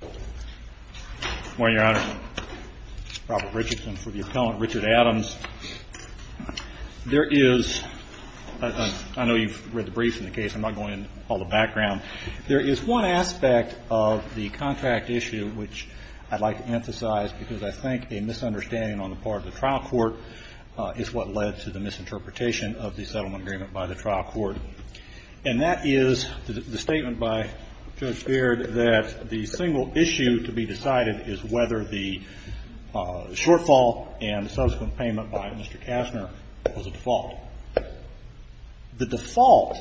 Good morning, Your Honor. Robert Richardson for the appellant, Richard Adams. There is – I know you've read the briefs in the case. I'm not going into all the background. There is one aspect of the contract issue which I'd like to emphasize because I think a misunderstanding on the part of the trial court is what led to the misinterpretation of the settlement agreement by the trial court. And that is the statement by Judge Beard that the single issue to be decided is whether the shortfall and subsequent payment by Mr. Kastner was a default. The default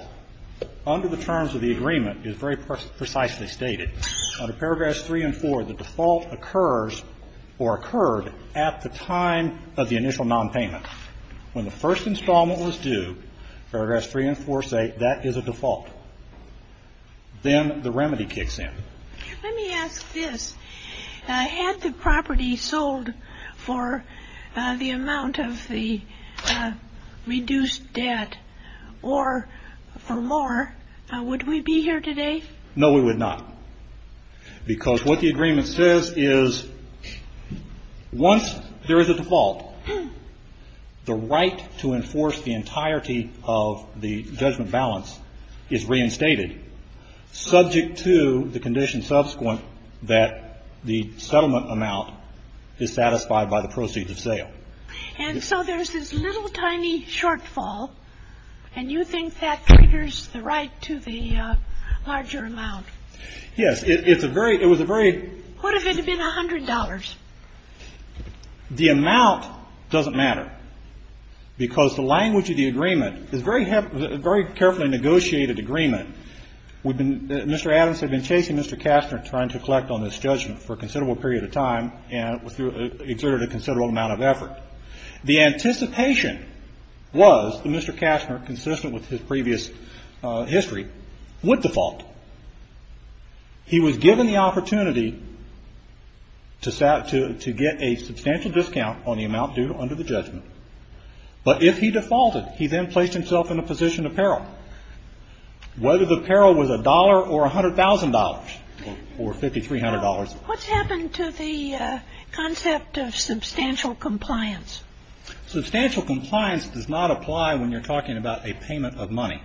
under the terms of the agreement is very precisely stated. Under paragraphs 3 and 4, the default occurs or occurred at the time of the initial nonpayment. When the first installment was due, paragraphs 3 and 4 say that is a default. Then the remedy kicks in. Let me ask this. Had the property sold for the amount of the reduced debt or for more, would we be here today? No, we would not. Because what the agreement says is once there is a default, the right to enforce the entirety of the judgment balance is reinstated, subject to the condition subsequent that the settlement amount is satisfied by the proceeds of sale. And so there's this little tiny shortfall, and you think that triggers the right to the larger amount? Yes. It's a very – it was a very – What if it had been $100? The amount doesn't matter because the language of the agreement is very carefully negotiated agreement. We've been – Mr. Adams had been chasing Mr. Kastner trying to collect on this judgment for a considerable period of time and exerted a considerable amount of effort. The anticipation was that Mr. Kastner, consistent with his previous history, would default. He was given the opportunity to get a substantial discount on the amount due under the judgment. But if he defaulted, he then placed himself in a position of peril, whether the peril was $1 or $100,000 or $5,300. What's happened to the concept of substantial compliance? Substantial compliance does not apply when you're talking about a payment of money,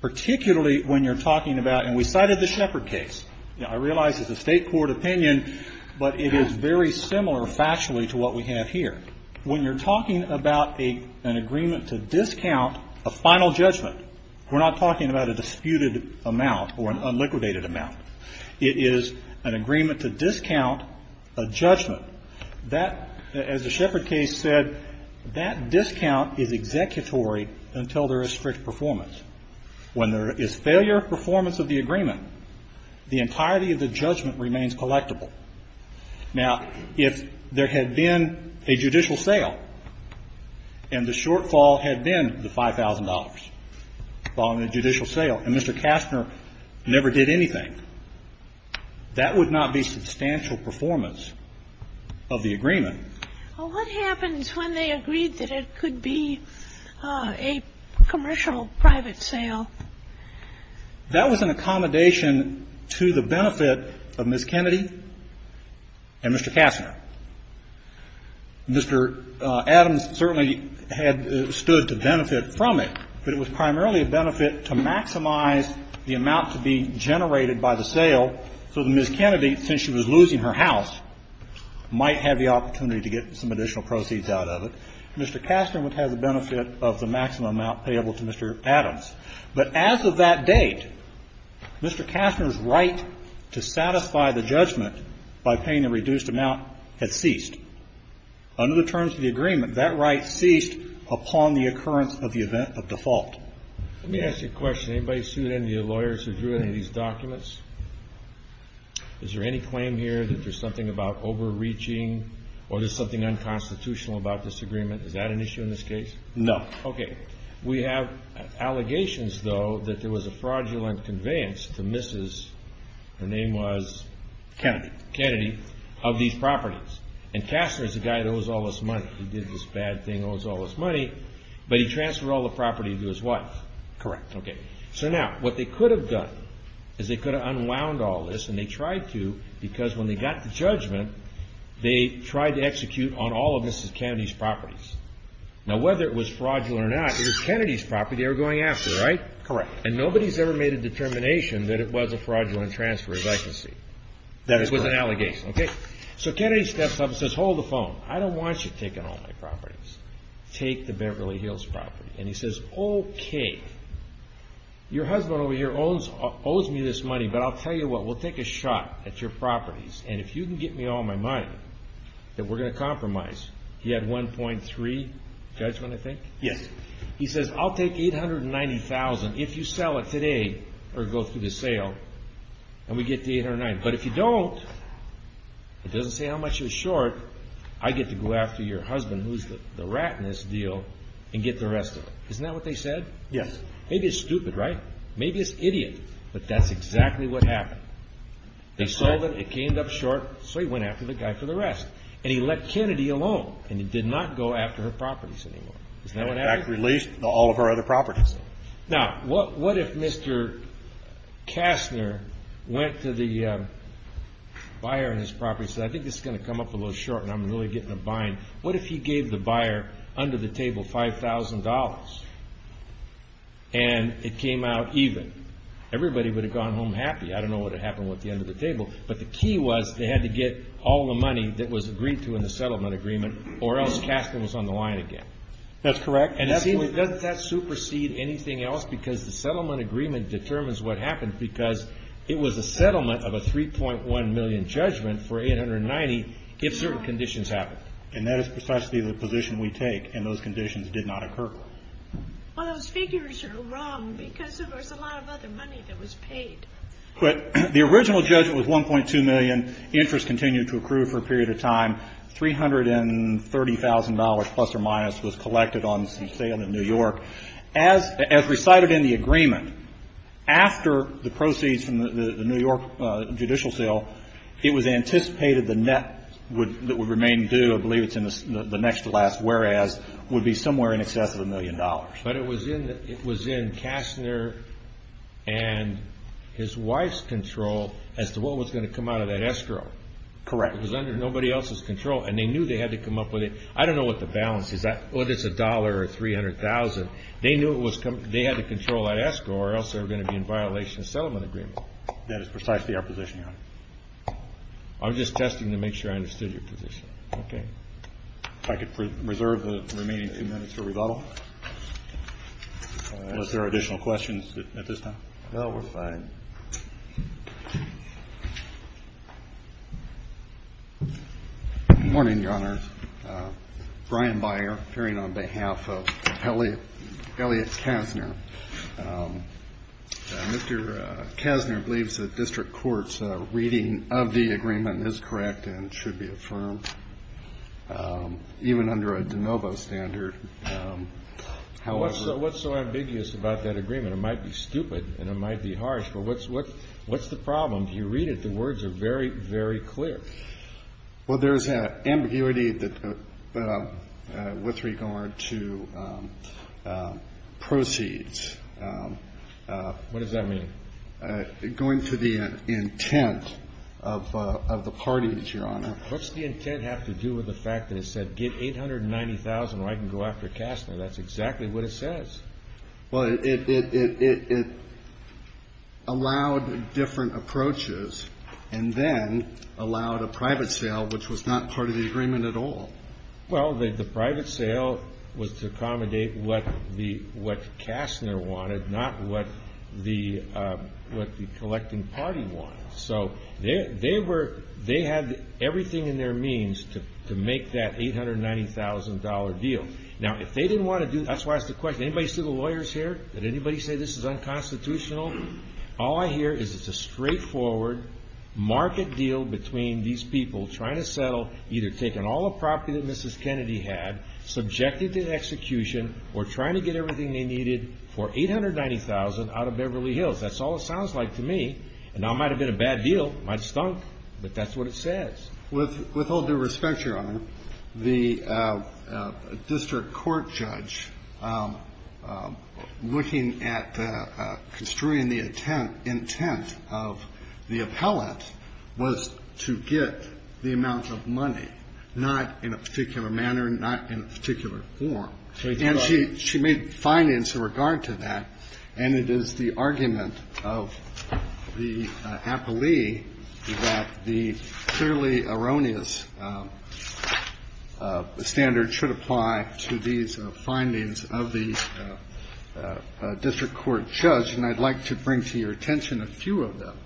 particularly when you're talking about – and we cited the Shepard case. I realize it's a state court opinion, but it is very similar factually to what we have here. When you're talking about an agreement to discount a final judgment, we're not talking about a disputed amount or an unliquidated amount. It is an agreement to discount a judgment. That – as the Shepard case said, that discount is executory until there is strict performance. When there is failure of performance of the agreement, the entirety of the judgment remains collectible. Now, if there had been a judicial sale and the shortfall had been the $5,000 following the judicial sale, and Mr. Kastner never did anything, that would not be substantial performance of the agreement. Well, what happens when they agreed that it could be a commercial private sale? That was an accommodation to the benefit of Ms. Kennedy and Mr. Kastner. Mr. Adams certainly had stood to benefit from it, but it was primarily a benefit to maximize the amount to be generated by the sale so that Ms. Kennedy, since she was losing her house, might have the opportunity to get some additional proceeds out of it. Mr. Kastner would have the benefit of the maximum amount payable to Mr. Adams. But as of that date, Mr. Kastner's right to satisfy the judgment by paying a reduced amount had ceased. Under the terms of the agreement, that right ceased upon the occurrence of the event of default. Let me ask you a question. Anybody sued any of your lawyers who drew any of these documents? Is there any claim here that there's something about overreaching or there's something unconstitutional about this agreement? Is that an issue in this case? No. Okay. We have allegations, though, that there was a fraudulent conveyance to Mrs. Her name was? Kennedy. Kennedy, of these properties. And Kastner's the guy that owes all this money. He did this bad thing, owes all this money, but he transferred all the property to his wife. Correct. Okay. So now, what they could have done is they could have unwound all this, and they tried to because when they got the judgment, they tried to execute on all of Mrs. Kennedy's properties. Now, whether it was fraudulent or not, it was Kennedy's property they were going after, right? Correct. And nobody's ever made a determination that it was a fraudulent transfer, as I can see. That is correct. It was an allegation. Okay. So Kennedy steps up and says, hold the phone. I don't want you taking all my properties. Take the Beverly Hills property. And he says, okay. Your husband over here owes me this money, but I'll tell you what. We'll take a shot at your properties, and if you can get me all my money that we're going to compromise, he had 1.3 judgment, I think. Yes. He says, I'll take 890,000 if you sell it today or go through the sale, and we get to 809. But if you don't, it doesn't say how much it was short. I get to go after your husband, who's the rat in this deal, and get the rest of it. Isn't that what they said? Yes. Maybe it's stupid, right? Maybe it's idiot, but that's exactly what happened. They sold it. It came up short. So he went after the guy for the rest. And he let Kennedy alone, and he did not go after her properties anymore. Isn't that what happened? In fact, released all of her other properties. Now, what if Mr. Kastner went to the buyer on his property and said, I think this is going to come up a little short and I'm really getting a bind. What if he gave the buyer under the table $5,000 and it came out even? Everybody would have gone home happy. I don't know what would have happened with the end of the table. But the key was they had to get all the money that was agreed to in the settlement agreement, or else Kastner was on the line again. That's correct. And doesn't that supersede anything else? Because the settlement agreement determines what happens, because it was a settlement of a $3.1 million judgment for $890 if certain conditions happened. And that is precisely the position we take, and those conditions did not occur. Well, those figures are wrong because there was a lot of other money that was paid. But the original judgment was $1.2 million. Interest continued to accrue for a period of time. $330,000 plus or minus was collected on some sale in New York. As recited in the agreement, after the proceeds from the New York judicial sale, it was anticipated the net that would remain due, I believe it's in the next to last whereas, would be somewhere in excess of $1 million. But it was in Kastner and his wife's control as to what was going to come out of that escrow. Correct. It was under nobody else's control, and they knew they had to come up with it. I don't know what the balance is, whether it's $1 or $300,000. They knew they had to control that escrow or else they were going to be in violation of the settlement agreement. That is precisely our position, Your Honor. I'm just testing to make sure I understood your position. Okay. If I could reserve the remaining two minutes for rebuttal. Unless there are additional questions at this time. No, we're fine. Good morning, Your Honor. Brian Byer, appearing on behalf of Elliot Kastner. Mr. Kastner believes that district court's reading of the agreement is correct and should be affirmed, even under a de novo standard. What's so ambiguous about that agreement? It might be stupid and it might be harsh, but what's the problem? If you read it, the words are very, very clear. Well, there's ambiguity with regard to proceeds. What does that mean? Going to the intent of the parties, Your Honor. What's the intent have to do with the fact that it said get 890,000 or I can go after Kastner? That's exactly what it says. Well, it allowed different approaches and then allowed a private sale, which was not part of the agreement at all. Well, the private sale was to accommodate what Kastner wanted, not what the collecting party wanted. So they had everything in their means to make that $890,000 deal. Now, if they didn't want to do it, that's why it's a question. Anybody see the lawyers here? Did anybody say this is unconstitutional? All I hear is it's a straightforward market deal between these people trying to settle either taking all the property that Mrs. Kennedy had, subjected to execution, or trying to get everything they needed for 890,000 out of Beverly Hills. That's all it sounds like to me. And that might have been a bad deal. It might have stunk, but that's what it says. With all due respect, Your Honor, the district court judge looking at construing the intent of the appellant was to get the amount of money, not in a particular manner, not in a particular form. And she made findings in regard to that. And it is the argument of the appellee that the clearly erroneous standard should apply to these findings of the district court judge. And I'd like to bring to your attention a few of them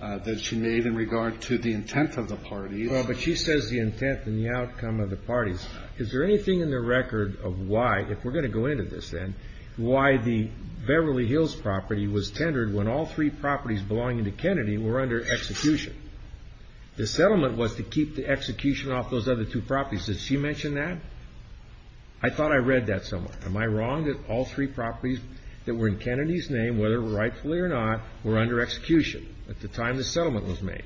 that she made in regard to the intent of the parties. Well, but she says the intent and the outcome of the parties. Is there anything in the record of why, if we're going to go into this then, why the Beverly Hills property was tendered when all three properties belonging to Kennedy were under execution? The settlement was to keep the execution off those other two properties. Did she mention that? I thought I read that somewhere. Am I wrong that all three properties that were in Kennedy's name, whether rightfully or not, were under execution at the time the settlement was made?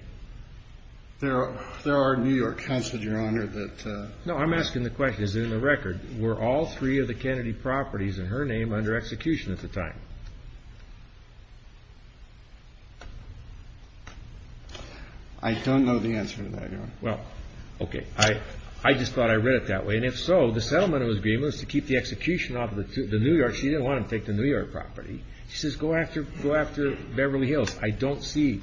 There are New York councils, Your Honor. No, I'm asking the question. Is it in the record? Were all three of the Kennedy properties in her name under execution at the time? I don't know the answer to that, Your Honor. Well, okay. I just thought I read it that way. And if so, the settlement agreement was to keep the execution off the New York. She didn't want them to take the New York property. She says go after Beverly Hills. I don't see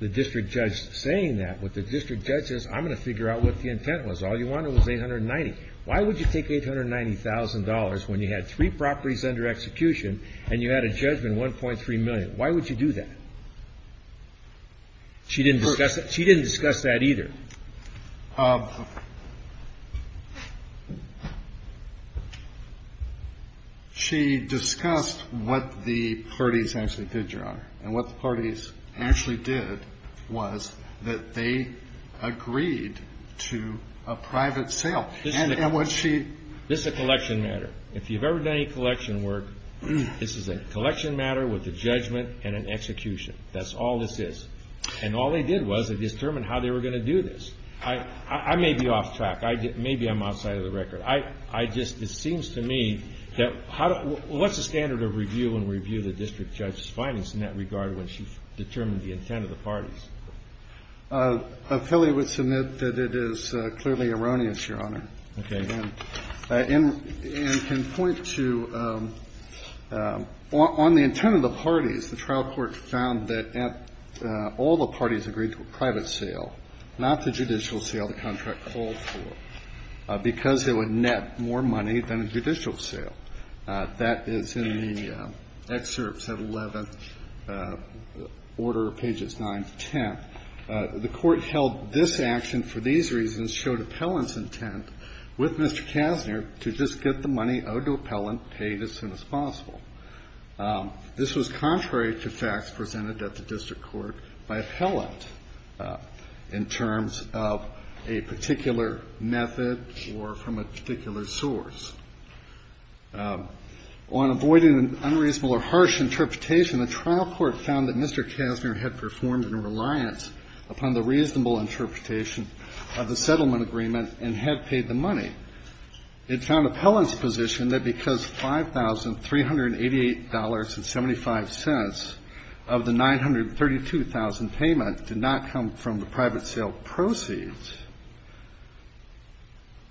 the district judge saying that. I'm going to figure out what the intent was. All you wanted was $890,000. Why would you take $890,000 when you had three properties under execution and you had a judgment of $1.3 million? Why would you do that? She didn't discuss that either. She discussed what the parties actually did, Your Honor. And what the parties actually did was that they agreed to a private sale. This is a collection matter. If you've ever done any collection work, this is a collection matter with a judgment and an execution. That's all this is. And all they did was they determined how they were going to do this. I may be off track. Maybe I'm outside of the record. It seems to me that what's the standard of review when we review the district judge's findings in that regard when she's determined the intent of the parties? A filly would submit that it is clearly erroneous, Your Honor. Okay. And can point to on the intent of the parties, the trial court found that all the parties agreed to a private sale, not the judicial sale the contract called for, because it would net more money than a judicial sale. That is in the excerpts of 11th Order, pages 9 to 10. The court held this action for these reasons, showed appellant's intent with Mr. Kasner to just get the money owed to appellant paid as soon as possible. This was contrary to facts presented at the district court by appellant in terms of a particular method or from a particular source. On avoiding unreasonable or harsh interpretation, the trial court found that Mr. Kasner had performed in reliance upon the reasonable interpretation of the settlement agreement and had paid the money. It found appellant's position that because $5,388.75 of the 932,000 payment did not come from the private sale proceeds,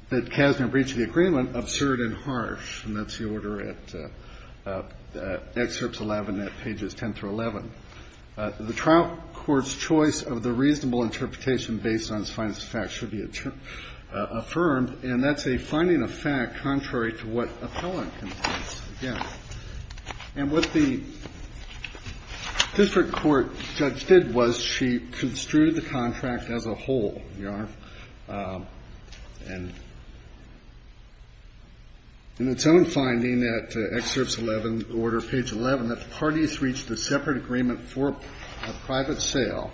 that Kasner breached the agreement absurd and harsh. And that's the order at excerpts 11 at pages 10 through 11. The trial court's choice of the reasonable interpretation based on its finest facts should be affirmed, and that's a finding of fact contrary to what appellant contends, again. And what the district court judge did was she construed the contract as a whole, Your Honor. And in its own finding at excerpts 11, Order page 11, that the parties reached a separate agreement for a private sale,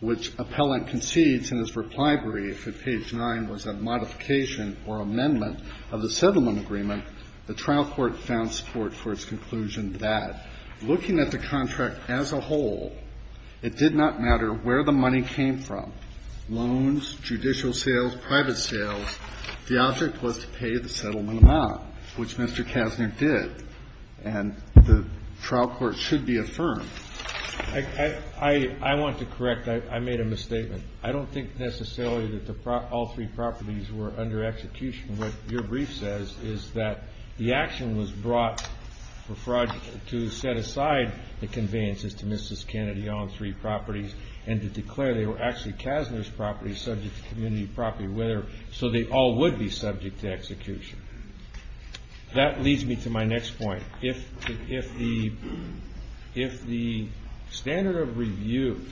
which appellant concedes in his reply brief at page 9 was a modification or amendment of the settlement agreement, the trial court found support for its conclusion that, looking at the contract as a whole, it did not matter where the money came from, loans, judicial sales, private sales, the object was to pay the settlement amount, which Mr. Kasner did. And the trial court should be affirmed. I want to correct. I made a misstatement. I don't think necessarily that all three properties were under execution. What your brief says is that the action was brought for fraud to set aside the conveyances to Mrs. Kennedy on three properties and to declare they were actually Kasner's properties subject to community property, so they all would be subject to execution. That leads me to my next point. If the standard of review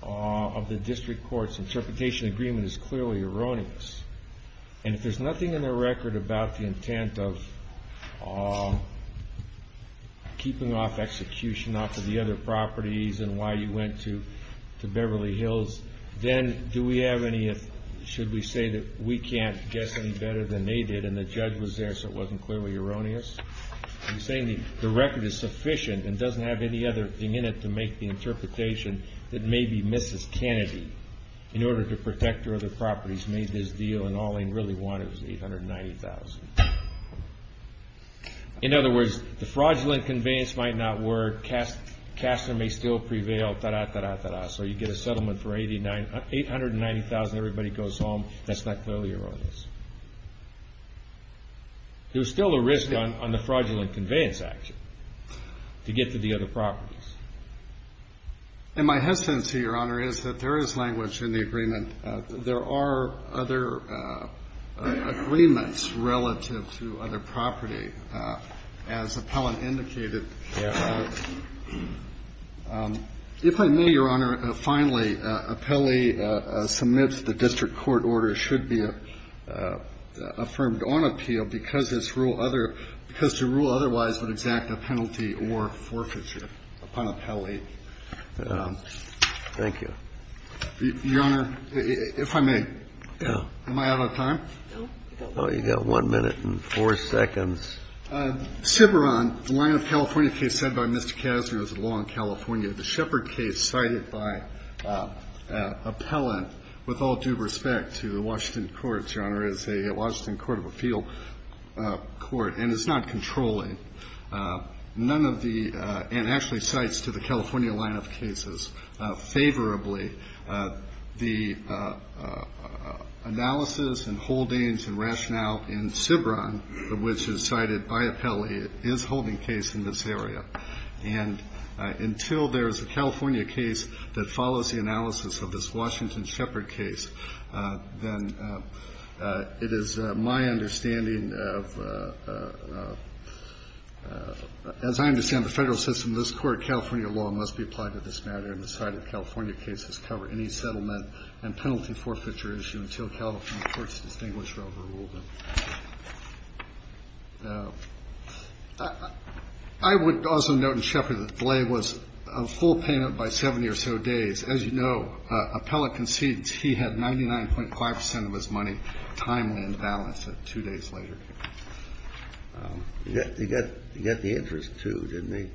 of the district court's interpretation agreement is clearly erroneous, and if there's nothing in the record about the intent of keeping off execution off of the other properties and why you went to Beverly Hills, then do we have any, should we say that we can't guess any better than they did and the judge was there so it wasn't clearly erroneous? Are you saying the record is sufficient and doesn't have any other thing in it to make the interpretation that maybe Mrs. Kennedy, in order to protect her other properties, made this deal and all they really wanted was $890,000? In other words, the fraudulent conveyance might not work. Kasner may still prevail. So you get a settlement for $890,000 and everybody goes home. That's not clearly erroneous. There's still a risk on the fraudulent conveyance action to get to the other properties. And my hesitancy, Your Honor, is that there is language in the agreement. There are other agreements relative to other property. As Appellant indicated, if I may, Your Honor, finally, I think that Appellee submits the district court order should be affirmed on appeal because to rule otherwise would exact a penalty or forfeiture upon Appellee. Thank you. Your Honor, if I may, am I out of time? No, you've got one minute and four seconds. Ciberon, the line of California case said by Mr. Kasner is a law in California. The Shepard case cited by Appellant, with all due respect to the Washington courts, Your Honor, is a Washington court of appeal court, and it's not controlling. None of the and actually cites to the California line of cases favorably the analysis and holdings and rationale in Ciberon, which is cited by Appellee, is holding case in this area. And until there is a California case that follows the analysis of this Washington Shepard case, then it is my understanding of as I understand the federal system, this court of California law must be applied to this matter and the cited California case has covered any settlement and penalty forfeiture issue until California courts distinguish or overrule them. I would also note in Shepard that the delay was a full payment by 70 or so days. As you know, Appellant concedes he had 99.5 percent of his money timely in balance two days later. You got the interest, too, didn't you?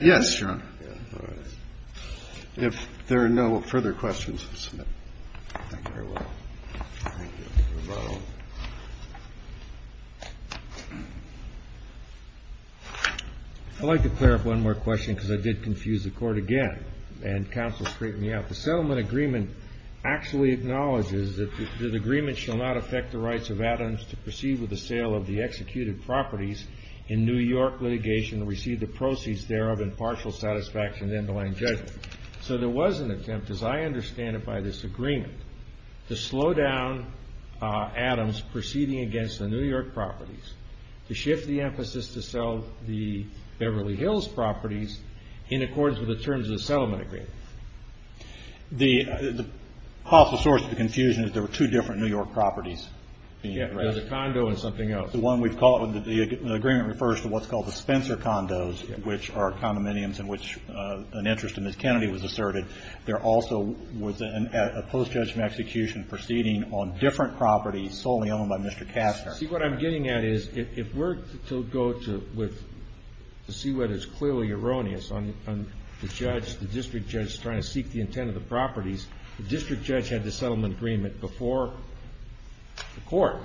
Yes, Your Honor. All right. If there are no further questions, we'll submit. Thank you very much. I'd like to clear up one more question because I did confuse the court again and counsel straightened me out. The settlement agreement actually acknowledges that the agreement shall not affect the rights of Adams to proceed with the sale of the executed properties in New York litigation and receive the proceeds thereof in partial satisfaction of the underlying judgment. So there was an attempt, as I understand it by this agreement, to slow down Adams proceeding against the New York properties, to shift the emphasis to sell the Beverly Hills properties in accordance with the terms of the settlement agreement. The possible source of the confusion is there were two different New York properties. Yes, there's a condo and something else. The agreement refers to what's called the Spencer condos, which are condominiums in which an interest in Ms. Kennedy was asserted. There also was a post-judgment execution proceeding on different properties solely owned by Mr. Kastner. See, what I'm getting at is if we're to go to see what is clearly erroneous on the judge, the district judge trying to seek the intent of the properties, the district judge had the settlement agreement before the court,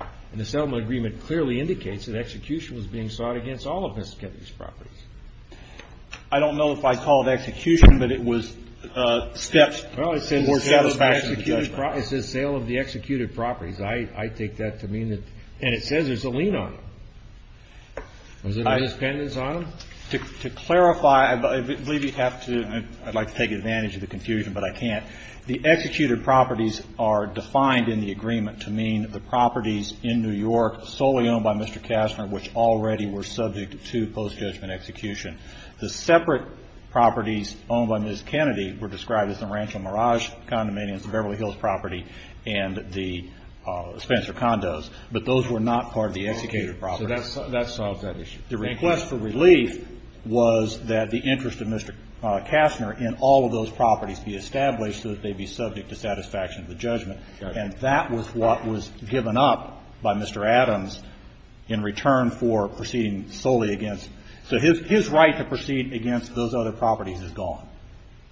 and the settlement agreement clearly indicates that execution was being sought against all of Ms. Kennedy's properties. I don't know if I called execution, but it was steps towards satisfaction of the judgment. Well, it says sale of the executed properties. I take that to mean that – and it says there's a lien on them. Was there an independence on them? To clarify, I believe you have to – I'd like to take advantage of the confusion, but I can't. The executed properties are defined in the agreement to mean the properties in New York solely owned by Mr. Kastner, which already were subject to post-judgment execution. The separate properties owned by Ms. Kennedy were described as the Rancho Mirage condominiums, the Beverly Hills property, and the Spencer condos. But those were not part of the executed property. So that solves that issue. The request for relief was that the interest of Mr. Kastner in all of those properties be established so that they'd be subject to satisfaction of the judgment. And that was what was given up by Mr. Adams in return for proceeding solely against – so his right to proceed against those other properties is gone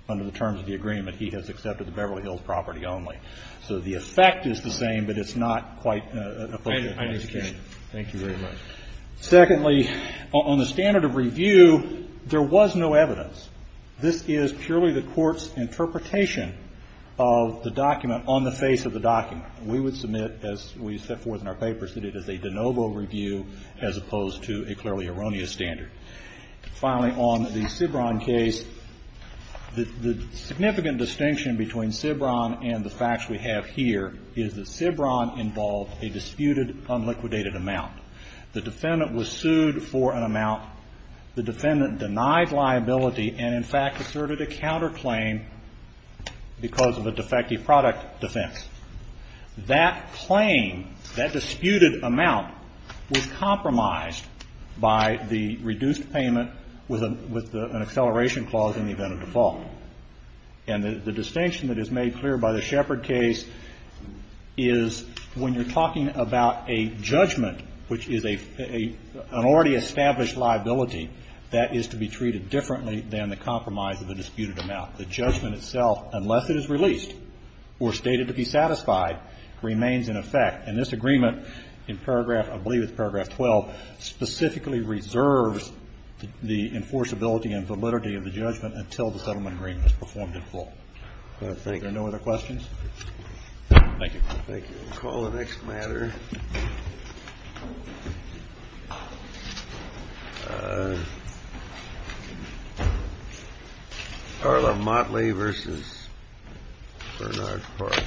under the terms of the agreement. He has accepted the Beverly Hills property only. So the effect is the same, but it's not quite appropriate. I understand. Thank you very much. Secondly, on the standard of review, there was no evidence. This is purely the Court's interpretation of the document on the face of the document. We would submit, as we set forth in our papers, that it is a de novo review as opposed to a clearly erroneous standard. Finally, on the Cibran case, the significant distinction between Cibran and the facts we have here is that Cibran involved a disputed, unliquidated amount. The defendant was sued for an amount. The defendant denied liability and, in fact, asserted a counterclaim because of a defective product defense. That claim, that disputed amount, was compromised by the reduced payment with an acceleration clause in the event of default. And the distinction that is made clear by the Shepard case is when you're talking about a judgment, which is an already established liability that is to be treated differently than the compromise of the disputed amount. The judgment itself, unless it is released or stated to be satisfied, remains in effect. And this agreement in paragraph, I believe it's paragraph 12, specifically reserves the enforceability and validity of the judgment until the settlement agreement is performed in full. Thank you. Are there no other questions? Thank you. I think we'll call the next matter. Carla Motley vs. Bernard Parks. Thank you.